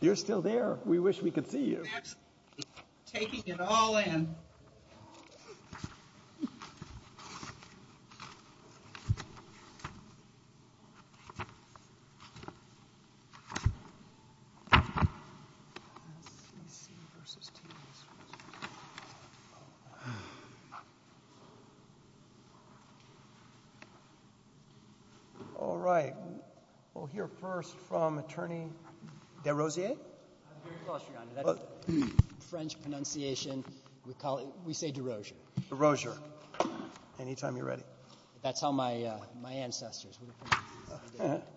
You're still there. We wish we could see you. Taking it all in. S.E.C. v. Team Resources Incorporated All right. We'll hear first from Attorney DeRozier. I'm very close, Your Honor. That's the French pronunciation. We say DeRozier. DeRozier, anytime you're ready. That's how my ancestors would have pronounced it.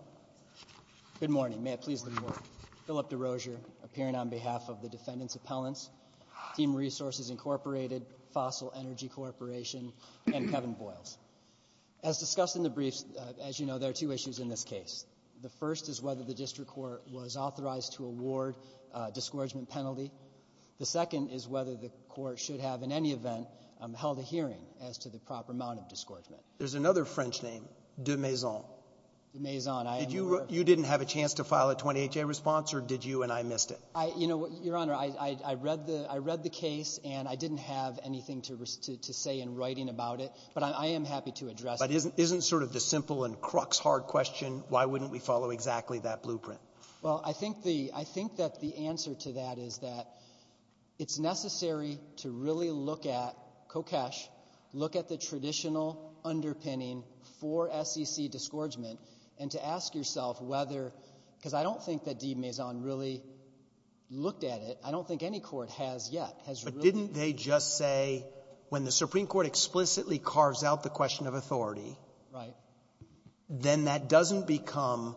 Good morning. May it please the Court. Philip DeRozier, appearing on behalf of the defendants' appellants, Team Resources Incorporated, Fossil Energy Corporation, and Kevin Boyles. As discussed in the briefs, as you know, there are two issues in this case. The first is whether the district court was authorized to award a disgorgement penalty. The second is whether the court should have, in any event, held a hearing as to the proper amount of disgorgement. There's another French name, De Maison. De Maison. You didn't have a chance to file a 28-J response, or did you and I missed it? You know, Your Honor, I read the case, and I didn't have anything to say in writing about it. But I am happy to address it. But isn't sort of the simple and crux hard question, why wouldn't we follow exactly that blueprint? Well, I think the — I think that the answer to that is that it's necessary to really look at Kokesh, look at the traditional underpinning for SEC disgorgement, and to ask yourself whether — because I don't think that De Maison really looked at it. I don't think any court has yet. But didn't they just say when the Supreme Court explicitly carves out the question of authority, then that doesn't become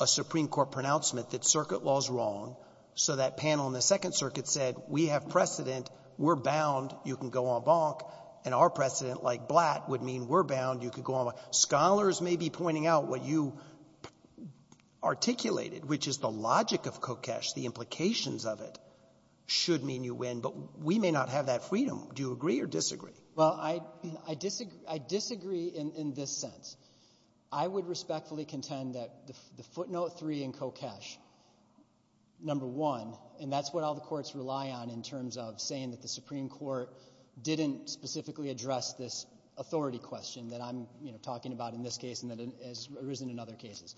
a Supreme Court pronouncement that circuit law is wrong. So that panel in the Second Circuit said, we have precedent, we're bound, you can go en banc, and our precedent, like Blatt, would mean we're bound, you could go en banc. Scholars may be pointing out what you articulated, which is the logic of Kokesh, the implications of it, should mean you win. But we may not have that freedom. Do you agree or disagree? Well, I disagree in this sense. I would respectfully contend that the footnote three in Kokesh, number one, and that's what all the courts rely on in terms of saying that the Supreme Court didn't specifically address this authority question that I'm talking about in this case and that has arisen in other cases.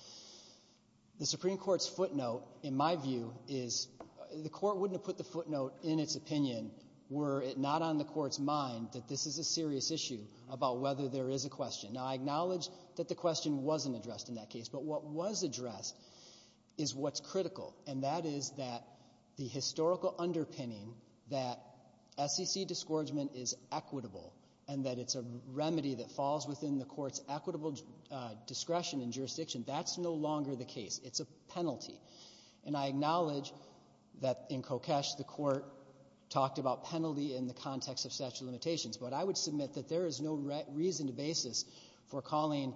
The Supreme Court's footnote, in my view, is — the court wouldn't have put the footnote in its opinion were it not on the court's mind that this is a serious issue about whether there is a question. Now, I acknowledge that the question wasn't addressed in that case, but what was addressed is what's critical, and that is that the historical underpinning that SEC disgorgement is equitable and that it's a remedy that falls within the court's equitable discretion and jurisdiction, that's no longer the case. It's a penalty. And I acknowledge that in Kokesh, the court talked about penalty in the context of statute of limitations, but I would submit that there is no reason to basis for calling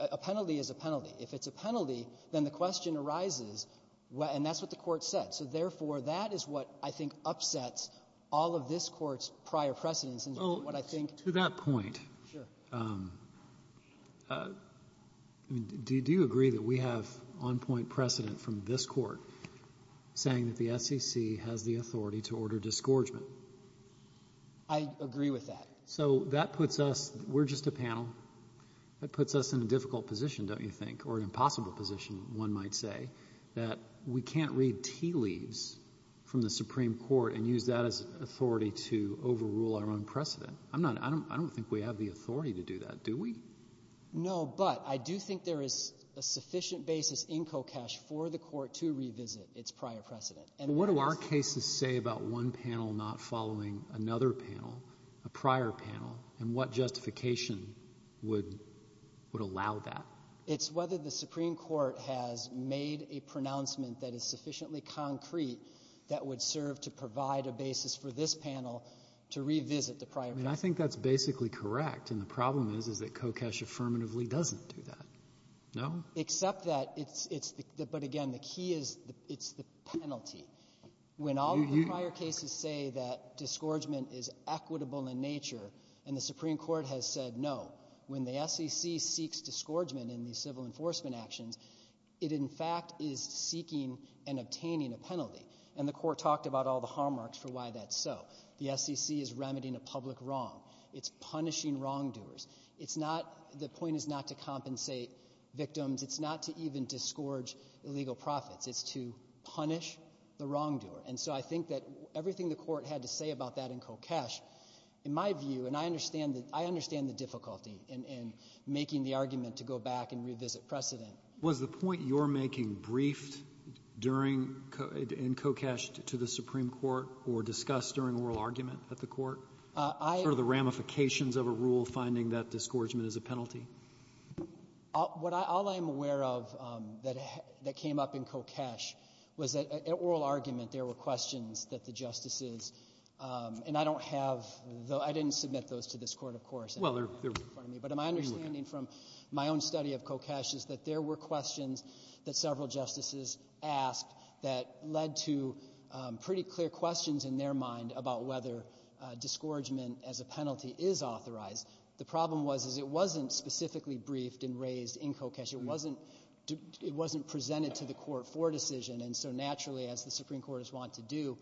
a penalty as a penalty. If it's a penalty, then the question arises, and that's what the court said. So, therefore, that is what I think upsets all of this Court's prior precedence in what I think — precedent from this Court saying that the SEC has the authority to order disgorgement. I agree with that. So that puts us — we're just a panel. That puts us in a difficult position, don't you think, or an impossible position, one might say, that we can't read tea leaves from the Supreme Court and use that as authority to overrule our own precedent. I'm not — I don't think we have the authority to do that, do we? No, but I do think there is a sufficient basis in Kokesh for the court to revisit its prior precedent. What do our cases say about one panel not following another panel, a prior panel, and what justification would allow that? It's whether the Supreme Court has made a pronouncement that is sufficiently concrete that would serve to provide a basis for this panel to revisit the prior precedent. I mean, I think that's basically correct. And the problem is, is that Kokesh affirmatively doesn't do that. No? Except that it's the — but again, the key is it's the penalty. When all of the prior cases say that disgorgement is equitable in nature and the Supreme Court has said no, when the SEC seeks disgorgement in these civil enforcement actions, it in fact is seeking and obtaining a penalty. And the Court talked about all the harm marks for why that's so. The SEC is remedying a public wrong. It's punishing wrongdoers. It's not — the point is not to compensate victims. It's not to even disgorge illegal profits. It's to punish the wrongdoer. And so I think that everything the Court had to say about that in Kokesh, in my view, and I understand the difficulty in making the argument to go back and revisit precedent. Was the point you're making briefed during — in Kokesh to the Supreme Court or discussed during oral argument at the Court? I — Or the ramifications of a rule finding that disgorgement is a penalty? All I'm aware of that came up in Kokesh was that at oral argument, there were questions that the justices — and I don't have — I didn't submit those to this Court, of course. Well, they're — But my understanding from my own study of Kokesh is that there were questions that several justices asked that led to pretty clear questions in their mind about whether disgorgement as a penalty is authorized. The problem was, is it wasn't specifically briefed and raised in Kokesh. It wasn't — it wasn't presented to the Court for decision. And so naturally, as the Supreme Court has wanted to do,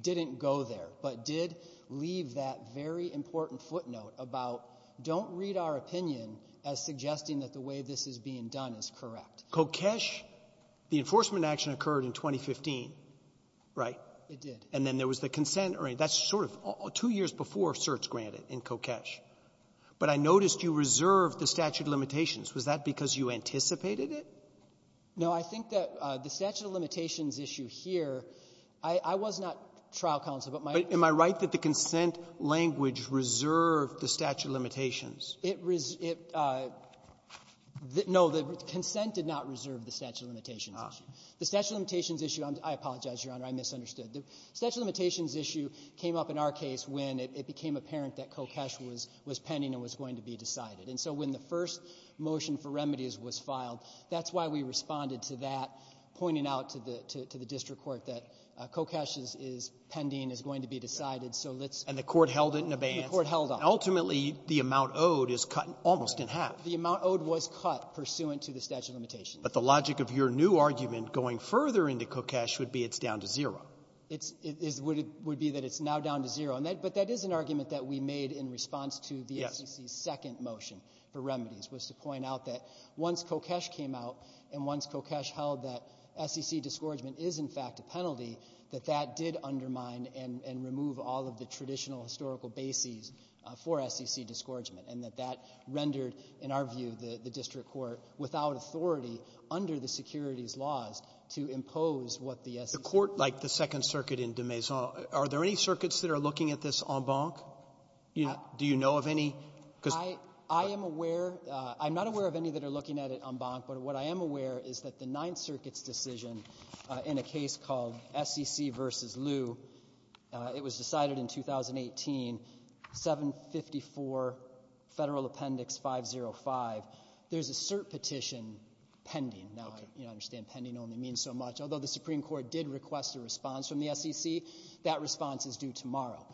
didn't go there. But did leave that very important footnote about don't read our opinion as suggesting that the way this is being done is correct. Kokesh, the enforcement action occurred in 2015, right? It did. And then there was the consent — that's sort of two years before certs granted in Kokesh. But I noticed you reserved the statute of limitations. Was that because you anticipated it? No, I think that the statute of limitations issue here — I was not trial counsel, but my — But am I right that the consent language reserved the statute of limitations? It — no, the consent did not reserve the statute of limitations issue. Ah. The statute of limitations issue — I apologize, Your Honor. I misunderstood. The statute of limitations issue came up in our case when it became apparent that Kokesh was — was pending and was going to be decided. And so when the first motion for remedies was filed, that's why we responded to that, Court, that Kokesh is — is pending, is going to be decided, so let's — And the court held it in abeyance. And the court held on. Ultimately, the amount owed is cut almost in half. The amount owed was cut pursuant to the statute of limitations. But the logic of your new argument going further into Kokesh would be it's down to zero. It's — it would be that it's now down to zero. But that is an argument that we made in response to the SEC's second motion for remedies, was to point out that once Kokesh came out and once Kokesh held that SEC discouragement is, in fact, a penalty, that that did undermine and — and remove all of the traditional historical bases for SEC discouragement, and that that rendered, in our view, the — the district court without authority under the securities laws to impose what the SEC — The court, like the Second Circuit in De Maison, are there any circuits that are looking at this en banc? Do you know of any? Because — I — I am aware — I'm not aware of any that are looking at it en banc, but what I am aware is that the Ninth Circuit's decision in a case called SEC v. Liu, it was decided in 2018, 754 Federal Appendix 505. There's a cert petition pending. Now, you know, I understand pending only means so much. Although the Supreme Court did request a response from the SEC, that response is due tomorrow.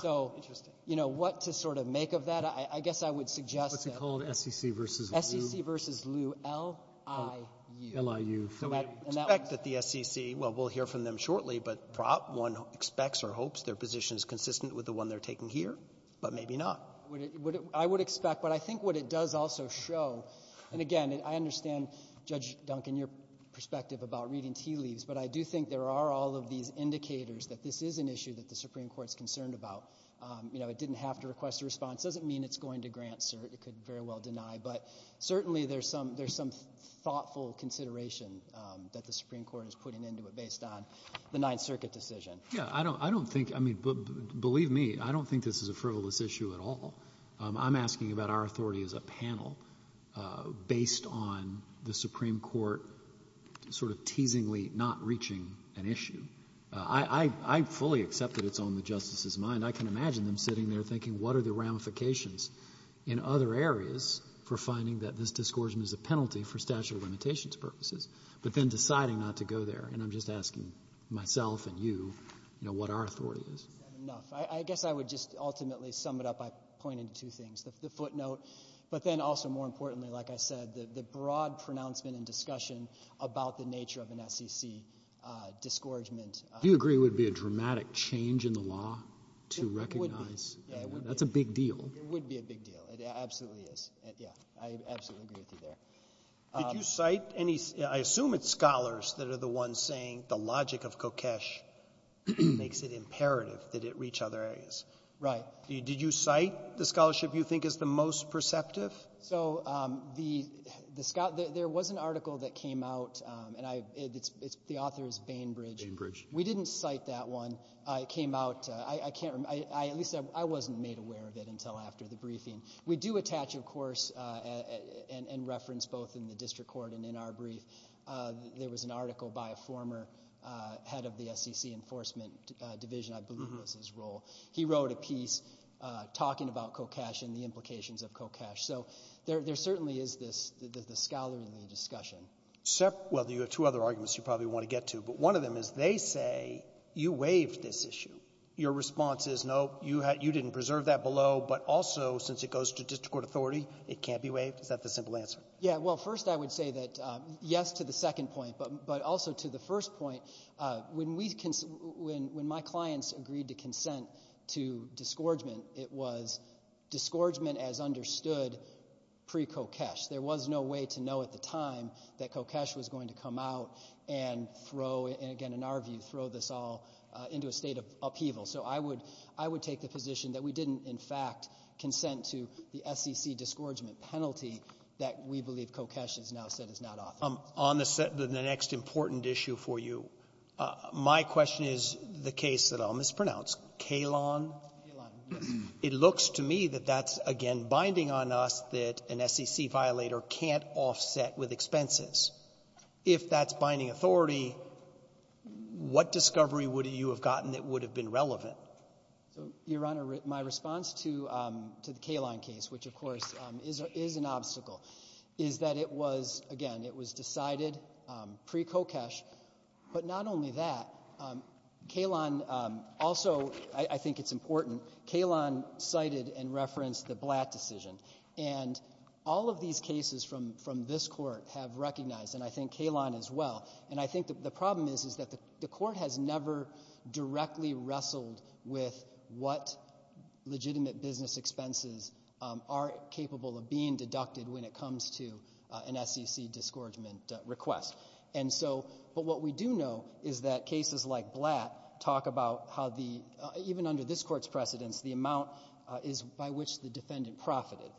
So, you know, what to sort of make of that? I guess I would suggest that — What's it called, SEC v. Liu? Liu. Liu. So we expect that the SEC — well, we'll hear from them shortly, but prop one expects or hopes their position is consistent with the one they're taking here, but maybe not. I would expect — but I think what it does also show — and again, I understand, Judge Duncan, your perspective about reading tea leaves, but I do think there are all of these indicators that this is an issue that the Supreme Court is concerned about. You know, it didn't have to request a response. It doesn't mean it's going to grant cert. It could very well deny. But certainly there's some thoughtful consideration that the Supreme Court is putting into it based on the Ninth Circuit decision. Yeah. I don't think — I mean, believe me, I don't think this is a frivolous issue at all. I'm asking about our authority as a panel based on the Supreme Court sort of teasingly not reaching an issue. I fully accept that it's on the justices' mind. I can imagine them sitting there thinking what are the ramifications in other areas for finding that this disgorgement is a penalty for statute of limitations purposes, but then deciding not to go there. And I'm just asking myself and you, you know, what our authority is. Is that enough? I guess I would just ultimately sum it up by pointing to two things, the footnote, but then also more importantly, like I said, the broad pronouncement and discussion about the nature of an SEC disgorgement. Do you agree it would be a dramatic change in the law to recognize — It would be. That's a big deal. It would be a big deal. It absolutely is. Yeah. I absolutely agree with you there. Did you cite any — I assume it's scholars that are the ones saying the logic of Kokesh makes it imperative that it reach other areas. Right. Did you cite the scholarship you think is the most perceptive? So the — there was an article that came out, and I — the author is Bainbridge. We didn't cite that one. It came out — I can't — at least I wasn't made aware of it until after the briefing. We do attach, of course, and reference both in the district court and in our brief, there was an article by a former head of the SEC Enforcement Division, I believe it was his role. He wrote a piece talking about Kokesh and the implications of Kokesh. So there certainly is this — the scholarly discussion. Well, you have two other arguments you probably want to get to, but one of them is they say you waived this issue. Your response is, no, you didn't preserve that below, but also since it goes to district court authority, it can't be waived? Is that the simple answer? Yeah. Well, first I would say that yes to the second point, but also to the first point. When we — when my clients agreed to consent to disgorgement, it was disgorgement as understood pre-Kokesh. There was no way to know at the time that Kokesh was going to come out and throw — and again, in our view, throw this all into a state of upheaval. So I would take the position that we didn't, in fact, consent to the SEC disgorgement penalty that we believe Kokesh has now said is not authorized. On the next important issue for you, my question is the case that I'll mispronounce, Kalon. Kalon, yes. It looks to me that that's, again, binding on us that an SEC violator can't offset with expenses. If that's binding authority, what discovery would you have gotten that would have been relevant? Your Honor, my response to the Kalon case, which, of course, is an obstacle, is that it was, again, it was decided pre-Kokesh. But not only that, Kalon also — I think it's important — Kalon cited and referenced the Blatt decision. And all of these cases from this Court have recognized, and I think Kalon as well, and I think the problem is, is that the Court has never directly wrestled with what legitimate business expenses are capable of being deducted when it comes to an SEC disgorgement request. And so — but what we do know is that cases like Blatt talk about how the — even under this Court's precedence, the amount is by which the defendant profited.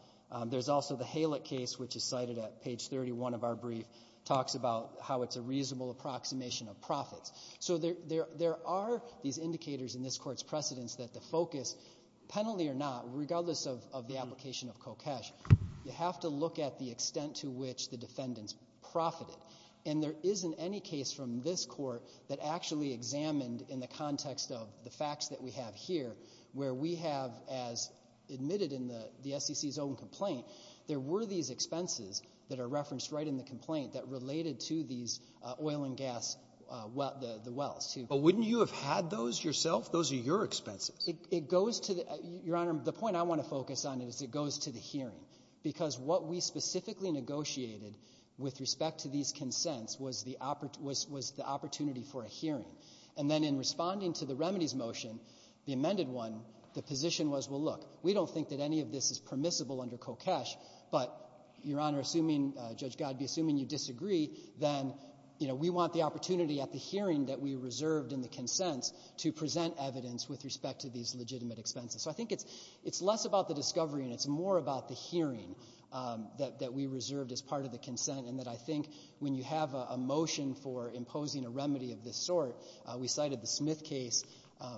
There's also the Halick case, which is cited at page 31 of our brief, talks about how it's a reasonable approximation of profits. So there are these indicators in this Court's precedence that the focus, penalty or not, regardless of the application of Kokesh, you have to look at the extent to which the defendants profited. And there isn't any case from this Court that actually examined, in the context of the facts that we have here, where we have, as admitted in the SEC's own complaint, there were these expenses that are referenced right in the complaint that related to these oil and gas wells. But wouldn't you have had those yourself? Those are your expenses. It goes to the — Your Honor, the point I want to focus on is it goes to the hearing, because what we specifically negotiated with respect to these consents was the opportunity for a hearing. And then in responding to the remedies motion, the amended one, the position was, well, look, we don't think that any of this is permissible under Kokesh, but, Your Honor, assuming — Judge Godbee, assuming you disagree, then, you know, we want the opportunity at the hearing that we reserved in the consents to present evidence with respect to these legitimate expenses. So I think it's less about the discovery and it's more about the hearing that we reserved as part of the consent, and that I think when you have a motion for imposing a remedy of this sort, we cited the Smith case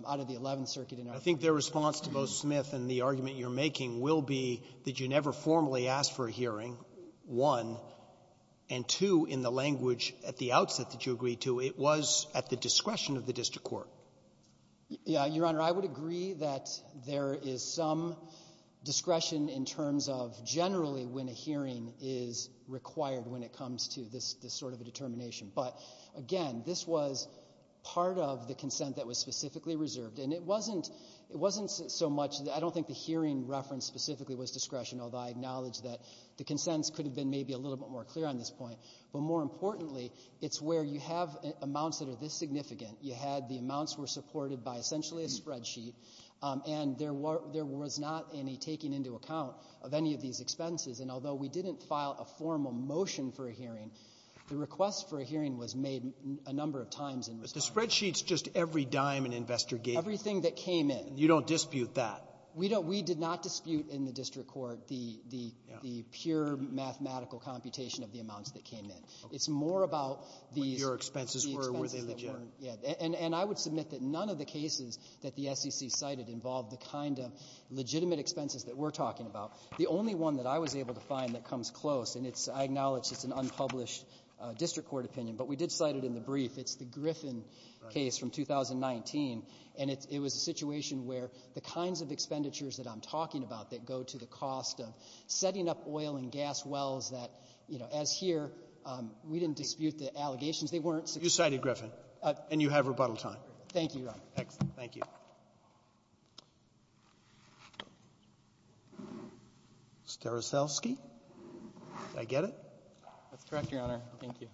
out of the Eleventh Circuit in our — Roberts. I think their response to both Smith and the argument you're making will be that you never formally asked for a hearing, one, and, two, in the language at the outset that you agreed to, it was at the discretion of the district court. Yeah, Your Honor, I would agree that there is some discretion in terms of generally when a hearing is required when it comes to this sort of a determination. But, again, this was part of the consent that was specifically reserved. And it wasn't — it wasn't so much — I don't think the hearing reference specifically was discretion, although I acknowledge that the consents could have been maybe a little bit more clear on this point. But more importantly, it's where you have amounts that are this significant. You had — the amounts were supported by essentially a spreadsheet, and there were — there was not any taking into account of any of these expenses. And although we didn't file a formal motion for a hearing, the request for a hearing was made a number of times in response. But the spreadsheet's just every dime an investor gave you. Everything that came in. You don't dispute that. We don't. We did not dispute in the district court the — the — the pure mathematical computation of the amounts that came in. It's more about these — What your expenses were. Were they legitimate? Yeah. And — and I would submit that none of the cases that the SEC cited involved the kind of legitimate expenses that we're talking about. The only one that I was able to find that comes close, and it's — I acknowledge it's an unpublished district court opinion, but we did cite it in the brief. It's the Griffin case from 2019. And it's — it was a situation where the kinds of expenditures that I'm talking about that go to the cost of setting up oil and gas wells that, you know, as here, we didn't dispute the allegations. They weren't — You cited Griffin. And you have rebuttal time. Thank you, Your Honor. Excellent. Thank you. Staroselsky? Did I get it? That's correct, Your Honor. Thank you.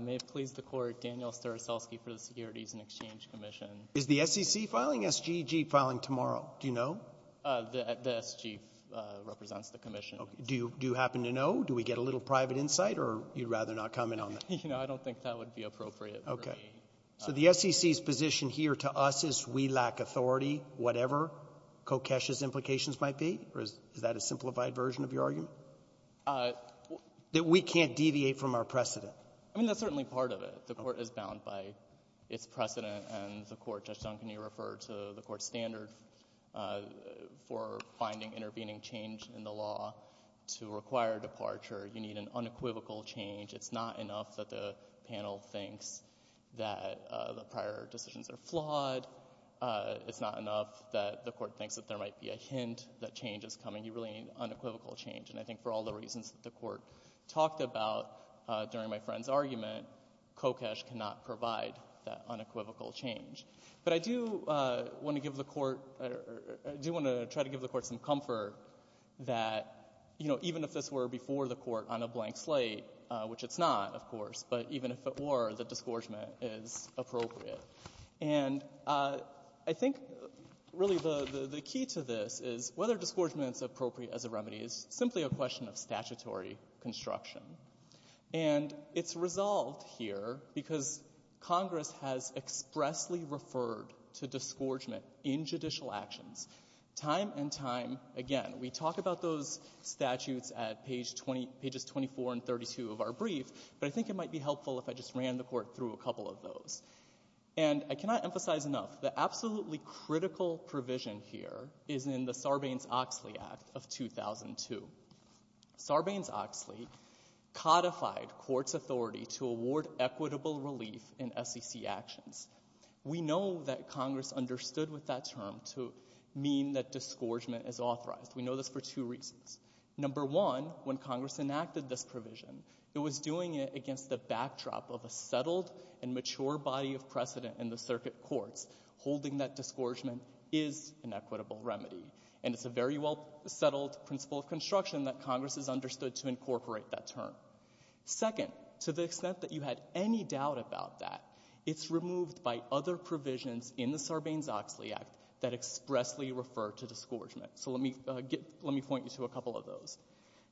May it please the Court, Daniel Staroselsky for the Securities and Exchange Commission. Is the SEC filing? SGG filing tomorrow? Do you know? The SG represents the commission. Do you — do you happen to know? Do we get a little private insight, or you'd rather not comment on that? You know, I don't think that would be appropriate for me. Okay. So the SEC's position here to us is we lack authority, whatever Kokesh's implications might be? Or is that a simplified version of your argument? That we can't deviate from our precedent. I mean, that's certainly part of it. The Court is bound by its precedent, and the Court — Judge Duncan, you referred to the Court's standard for finding intervening change in the law to require departure. You need an unequivocal change. It's not enough that the panel thinks that the prior decisions are flawed. It's not enough that the Court thinks that there might be a hint that change is coming. You really need unequivocal change. And I think for all the reasons that the Court talked about during my friend's argument, Kokesh cannot provide that unequivocal change. But I do want to give the Court — I do want to try to give the Court some comfort that, you know, even if this were before the Court on a blank slate, which it's not, of course, but even if it were, the disgorgement is appropriate. And I think, really, the key to this is whether disgorgement is appropriate as a remedy is simply a question of statutory construction. And it's resolved here because Congress has expressly referred to disgorgement in judicial actions. Time and time again, we talk about those statutes at pages 24 and 32 of our brief, but I think it might be helpful if I just ran the Court through a couple of those. And I cannot emphasize enough, the absolutely critical provision here is in the Sarbanes-Oxley Act of 2002. Sarbanes-Oxley codified court's authority to award equitable relief in SEC actions. We know that Congress understood with that term to mean that disgorgement is authorized. We know this for two reasons. Number one, when Congress enacted this provision, it was doing it against the backdrop of a settled and mature body of precedent in the circuit courts. Holding that disgorgement is an equitable remedy, and it's a very well-settled principle of construction that Congress has understood to incorporate that term. Second, to the extent that you had any doubt about that, it's removed by other provisions in the Sarbanes-Oxley Act that expressly refer to disgorgement. So let me get — let me point you to a couple of those.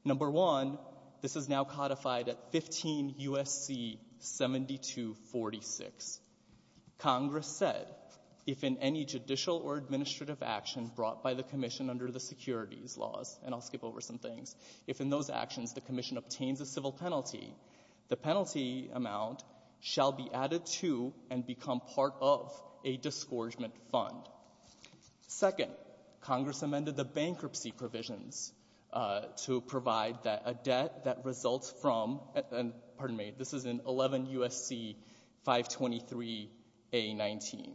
Number one, this is now codified at 15 U.S.C. 7246. Congress said, if in any judicial or administrative action brought by the commission under the securities laws — and I'll skip over some things — if in those actions the commission obtains a civil penalty, the penalty amount shall be added to and become part of a disgorgement fund. Second, Congress amended the bankruptcy provisions to provide that a debt that results from — and pardon me, this is in 11 U.S.C. 523A19.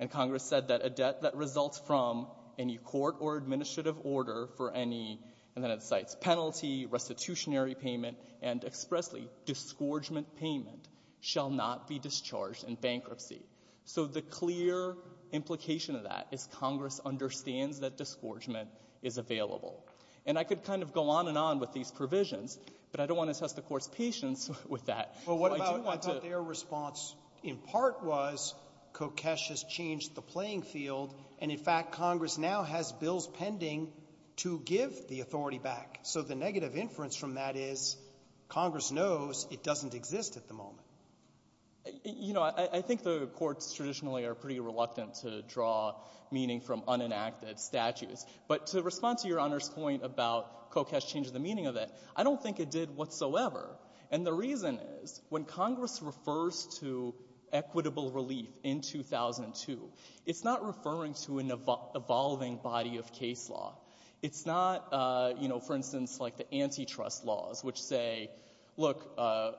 And Congress said that a debt that results from any court or administrative order for any — and then it cites penalty, restitutionary payment, and expressly disgorgement payment shall not be discharged in bankruptcy. So the clear implication of that is Congress understands that disgorgement is available. And I could kind of go on and on with these provisions, but I don't want to test the I do want to — Sotomayor, I thought their response in part was, Kokesh has changed the playing field, and in fact, Congress now has bills pending to give the authority back. So the negative inference from that is Congress knows it doesn't exist at the moment. You know, I think the courts traditionally are pretty reluctant to draw meaning from unenacted statutes. But to respond to Your Honor's point about Kokesh changing the meaning of it, I don't think it did whatsoever. And the reason is, when Congress refers to equitable relief in 2002, it's not really referring to an evolving body of case law. It's not, you know, for instance, like the antitrust laws, which say, look,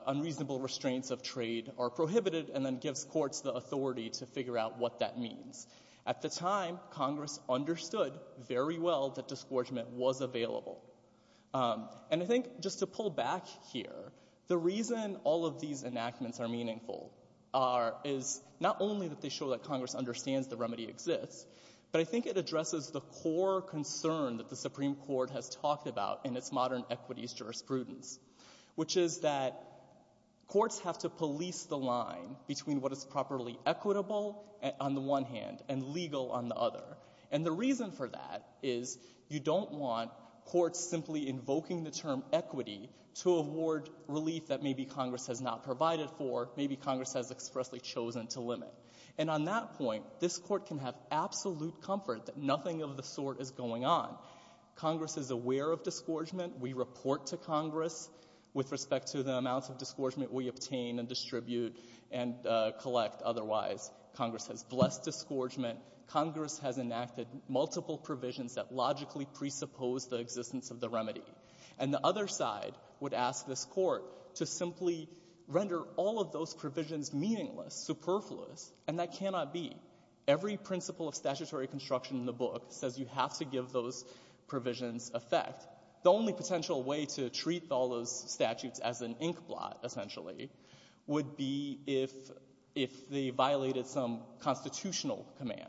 unreasonable restraints of trade are prohibited, and then gives courts the authority to figure out what that means. At the time, Congress understood very well that disgorgement was available. And I think just to pull back here, the reason all of these enactments are meaningful is not only that they show that Congress understands the remedy exists, but I think it addresses the core concern that the Supreme Court has talked about in its modern equities jurisprudence, which is that courts have to police the line between what is properly equitable on the one hand and legal on the other. And the reason for that is you don't want courts simply invoking the term equity to award relief that maybe Congress has not provided for, maybe Congress has expressly chosen to limit. And on that point, this Court can have absolute comfort that nothing of the sort is going on. Congress is aware of disgorgement. We report to Congress with respect to the amounts of disgorgement we obtain and distribute and collect. Otherwise, Congress has blessed disgorgement. Congress has enacted multiple provisions that logically presuppose the existence of the remedy. And the other side would ask this Court to simply render all of those provisions meaningless, superfluous, and that cannot be. Every principle of statutory construction in the book says you have to give those provisions effect. The only potential way to treat all those statutes as an inkblot, essentially, would be if they violated some constitutional command.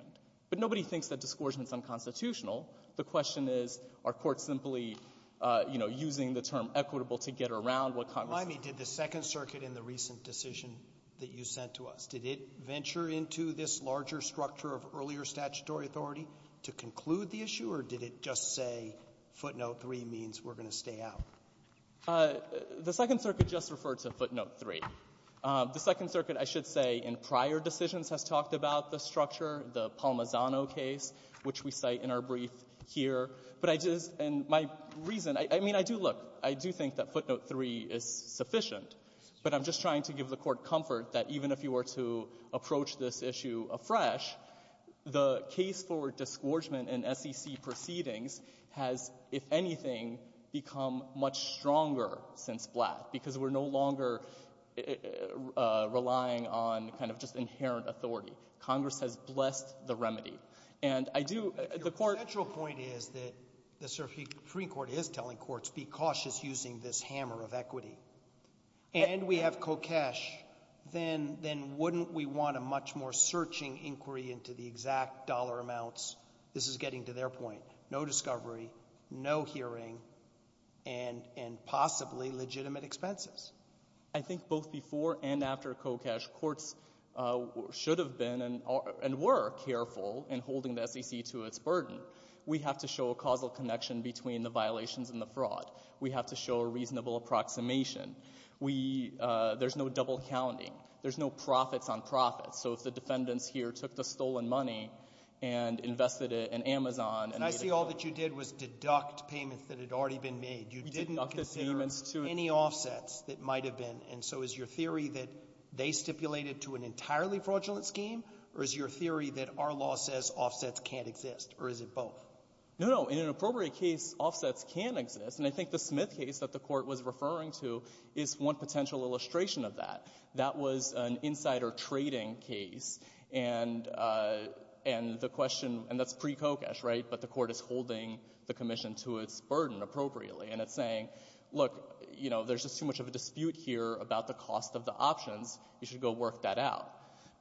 But nobody thinks that disgorgement is unconstitutional. The question is, are courts simply, you know, using the term equitable to get around what Congress has done? Alito, did the Second Circuit in the recent decision that you sent to us, did it venture into this larger structure of earlier statutory authority to conclude the issue, or did it just say footnote 3 means we're going to stay out? The Second Circuit just referred to footnote 3. The Second Circuit, I should say, in prior decisions has talked about the structure, the Palmazano case, which we cite in our brief here. But I just — and my reason — I mean, I do look — I do think that footnote 3 is sufficient, but I'm just trying to give the Court comfort that even if you were to approach this issue afresh, the case for disgorgement in SEC proceedings has, if anything, become much stronger since Blatt, because we're no longer relying on kind of just inherent authority. Congress has blessed the remedy. And I do — Your central point is that the Supreme Court is telling courts be cautious using this hammer of equity. And we have Kokesh. Then wouldn't we want a much more searching inquiry into the exact dollar amounts — this is getting to their point — no discovery, no hearing, and possibly legitimate expenses? I think both before and after Kokesh, courts should have been and were careful in holding the SEC to its burden. We have to show a causal connection between the violations and the fraud. We have to show a reasonable approximation. We — there's no double counting. There's no profits on profits. So if the defendants here took the stolen money and invested it in Amazon and made it — And I see all that you did was deduct payments that had already been made. You didn't consider — We deducted payments to — Any offsets that might have been. And so is your theory that they stipulated to an entirely fraudulent scheme, or is your theory that our law says offsets can't exist, or is it both? No, no. In an appropriate case, offsets can exist. And I think the Smith case that the Court was referring to is one potential illustration of that. That was an insider trading case. And the question — and that's pre-Kokesh, right? But the Court is holding the commission to its burden appropriately. And it's saying, look, you know, there's just too much of a dispute here about the cost of the options. You should go work that out.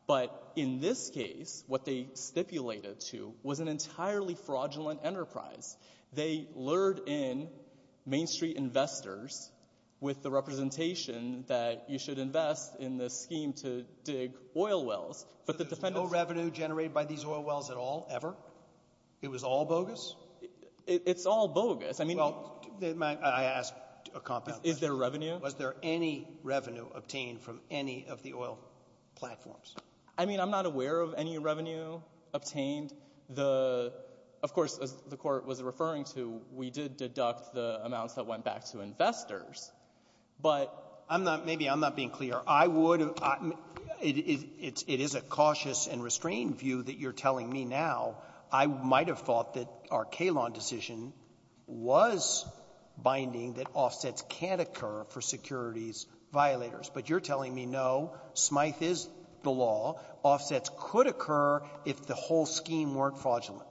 But in this case, what they stipulated to was an entirely fraudulent enterprise. They lured in Main Street investors with the representation that you should invest in this scheme to dig oil wells. But the defendants — So there's no revenue generated by these oil wells at all, ever? It was all bogus? It's all bogus. I mean — Well, I ask a compound question. Is there revenue? Was there any revenue obtained from any of the oil platforms? I mean, I'm not aware of any revenue obtained. The — of course, as the Court was referring to, we did deduct the amounts that went back to investors. But — I'm not — maybe I'm not being clear. I would — it is a cautious and restrained view that you're telling me now. I might have thought that our Kahlon decision was binding, that offsets can't occur for securities violators. But you're telling me, no, Smythe is the law, offsets could occur if the whole scheme weren't fraudulent.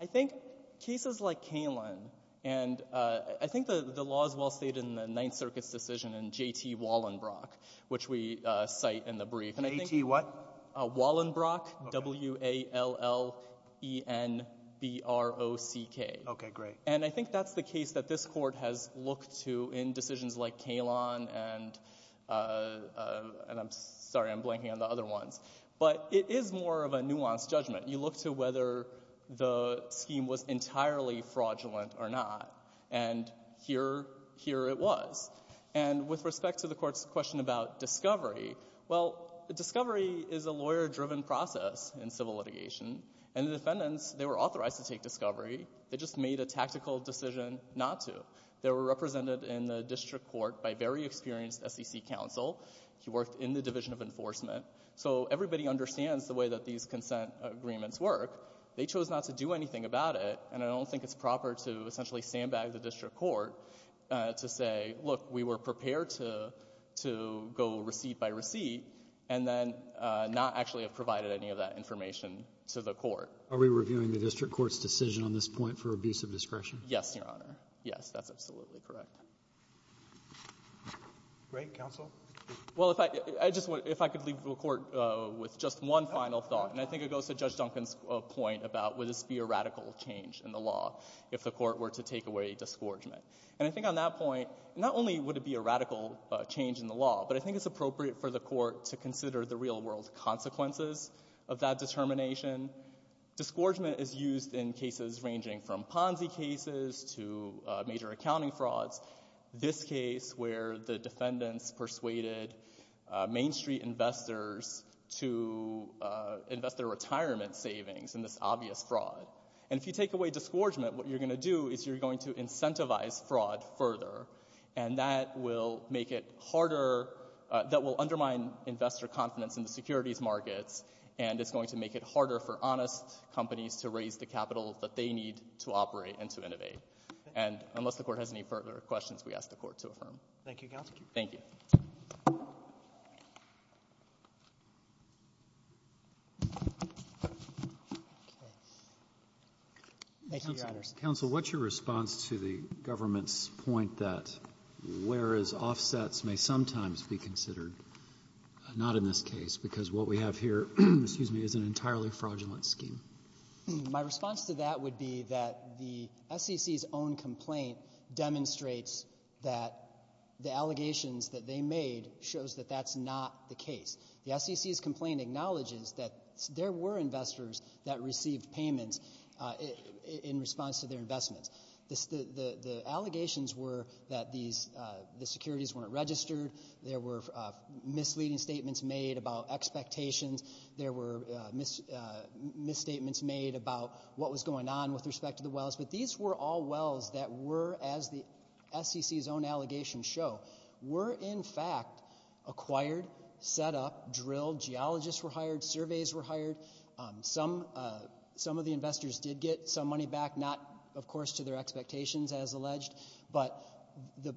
I think cases like Kahlon, and I think the law is well stated in the Ninth Circuit's decision in J.T. Wallenbrock, which we cite in the brief. J.T. what? Wallenbrock, W-A-L-L-E-N-B-R-O-C-K. Okay, great. And I think that's the case that this Court has looked to in decisions like Kahlon and — and I'm sorry, I'm blanking on the other ones. But it is more of a nuanced judgment. You look to whether the scheme was entirely fraudulent or not. And here — here it was. And with respect to the Court's question about discovery, well, discovery is a lawyer-driven process in civil litigation. And the defendants, they were authorized to take discovery. They just made a tactical decision not to. They were represented in the district court by very experienced SEC counsel. He worked in the Division of Enforcement. So everybody understands the way that these consent agreements work. They chose not to do anything about it, and I don't think it's proper to essentially sandbag the district court to say, look, we were prepared to — to go receipt by receipt and then not actually have provided any of that information to the court. Are we reviewing the district court's decision on this point for abuse of discretion? Yes, Your Honor. Yes, that's absolutely correct. Great. Counsel? Well, if I — I just — if I could leave the Court with just one final thought, and I think it goes to Judge Duncan's point about would this be a radical change in the law if the Court were to take away disgorgement? And I think on that point, not only would it be a radical change in the law, but I think it's appropriate for the Court to consider the real-world consequences of that determination. Disgorgement is used in cases ranging from Ponzi cases to major accounting frauds. This case where the defendants persuaded Main Street investors to invest their retirement savings in this obvious fraud. And if you take away disgorgement, what you're going to do is you're going to incentivize fraud further, and that will make it harder — that will undermine investor confidence in the securities markets, and it's going to make it harder for honest companies to raise the capital that they need to operate and to innovate. And unless the Court has any further questions, we ask the Court to affirm. Thank you, counsel. Thank you. Thank you. Thank you, Your Honors. Counsel, what's your response to the government's point that whereas offsets may sometimes be considered, not in this case, because what we have here is an entirely fraudulent scheme? My response to that would be that the SEC's own complaint demonstrates that the investments that they made shows that that's not the case. The SEC's complaint acknowledges that there were investors that received payments in response to their investments. The allegations were that the securities weren't registered. There were misleading statements made about expectations. There were misstatements made about what was going on with respect to the wells. But these were all wells that were, as the SEC's own allegations show, were in fact acquired, set up, drilled, geologists were hired, surveys were hired. Some of the investors did get some money back, not, of course, to their expectations, as alleged. But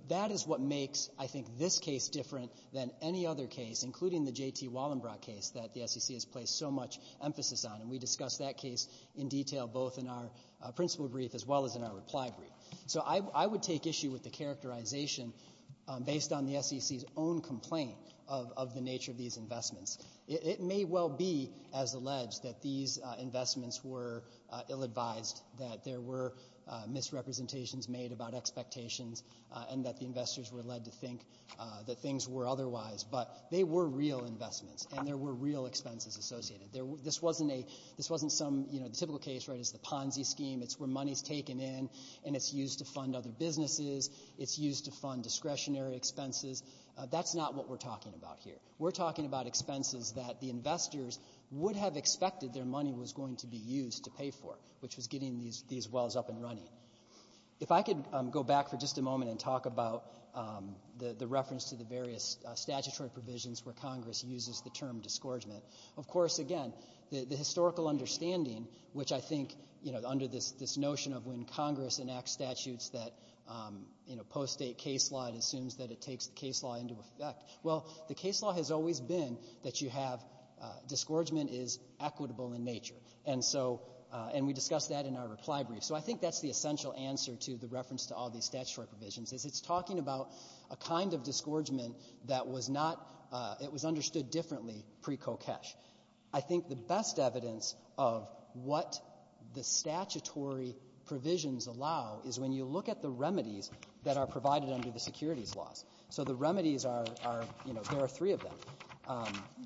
that is what makes, I think, this case different than any other case, including the J.T. Wallenbrock case that the SEC has placed so much emphasis on. And we discussed that case in detail both in our principle brief as well as in our reply brief. So I would take issue with the characterization based on the SEC's own complaint of the nature of these investments. It may well be, as alleged, that these investments were ill-advised, that there were misrepresentations made about expectations, and that the investors were led to think that things were otherwise. But they were real investments, and there were real expenses associated. This wasn't some, you know, the typical case, right, is the Ponzi scheme. It's where money is taken in, and it's used to fund other businesses. It's used to fund discretionary expenses. That's not what we're talking about here. We're talking about expenses that the investors would have expected their money was going to be used to pay for, which was getting these wells up and running. If I could go back for just a moment and talk about the reference to the various statutory provisions where Congress uses the term disgorgement. Of course, again, the historical understanding, which I think, you know, under this notion of when Congress enacts statutes that, you know, post-state case law, it assumes that it takes the case law into effect. Well, the case law has always been that you have disgorgement is equitable in nature. And so we discussed that in our reply brief. So I think that's the essential answer to the reference to all these statutory provisions is it's talking about a kind of disgorgement that was not – it was understood differently pre-Kokesh. I think the best evidence of what the statutory provisions allow is when you look at the remedies that are provided under the securities laws. So the remedies are – you know, there are three of them.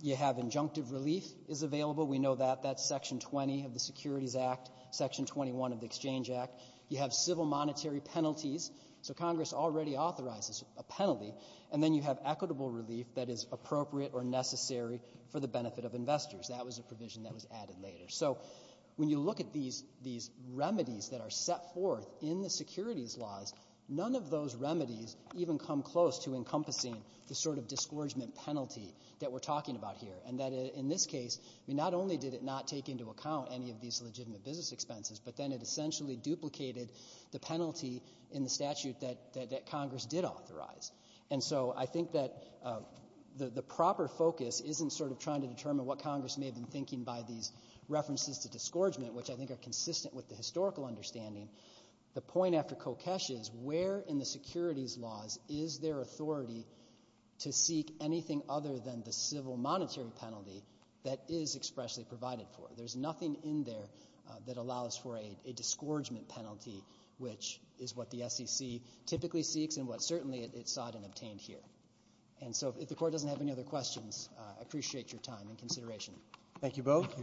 You have injunctive relief is available. We know that. That's Section 20 of the Securities Act, Section 21 of the Exchange Act. You have civil monetary penalties. So Congress already authorizes a penalty. And then you have equitable relief that is appropriate or necessary for the benefit of investors. That was a provision that was added later. So when you look at these remedies that are set forth in the securities laws, none of those remedies even come close to encompassing the sort of disgorgement penalty that we're talking about here, and that in this case, not only did it not take into account any authority in the statute that Congress did authorize. And so I think that the proper focus isn't sort of trying to determine what Congress may have been thinking by these references to disgorgement, which I think are consistent with the historical understanding. The point after Kokesh is where in the securities laws is there authority to seek anything other than the civil monetary penalty that is expressly provided for? There's nothing in there that allows for a disgorgement penalty, which is what the SEC typically seeks and what certainly it sought and obtained here. And so if the Court doesn't have any other questions, I appreciate your time and consideration. Thank you both.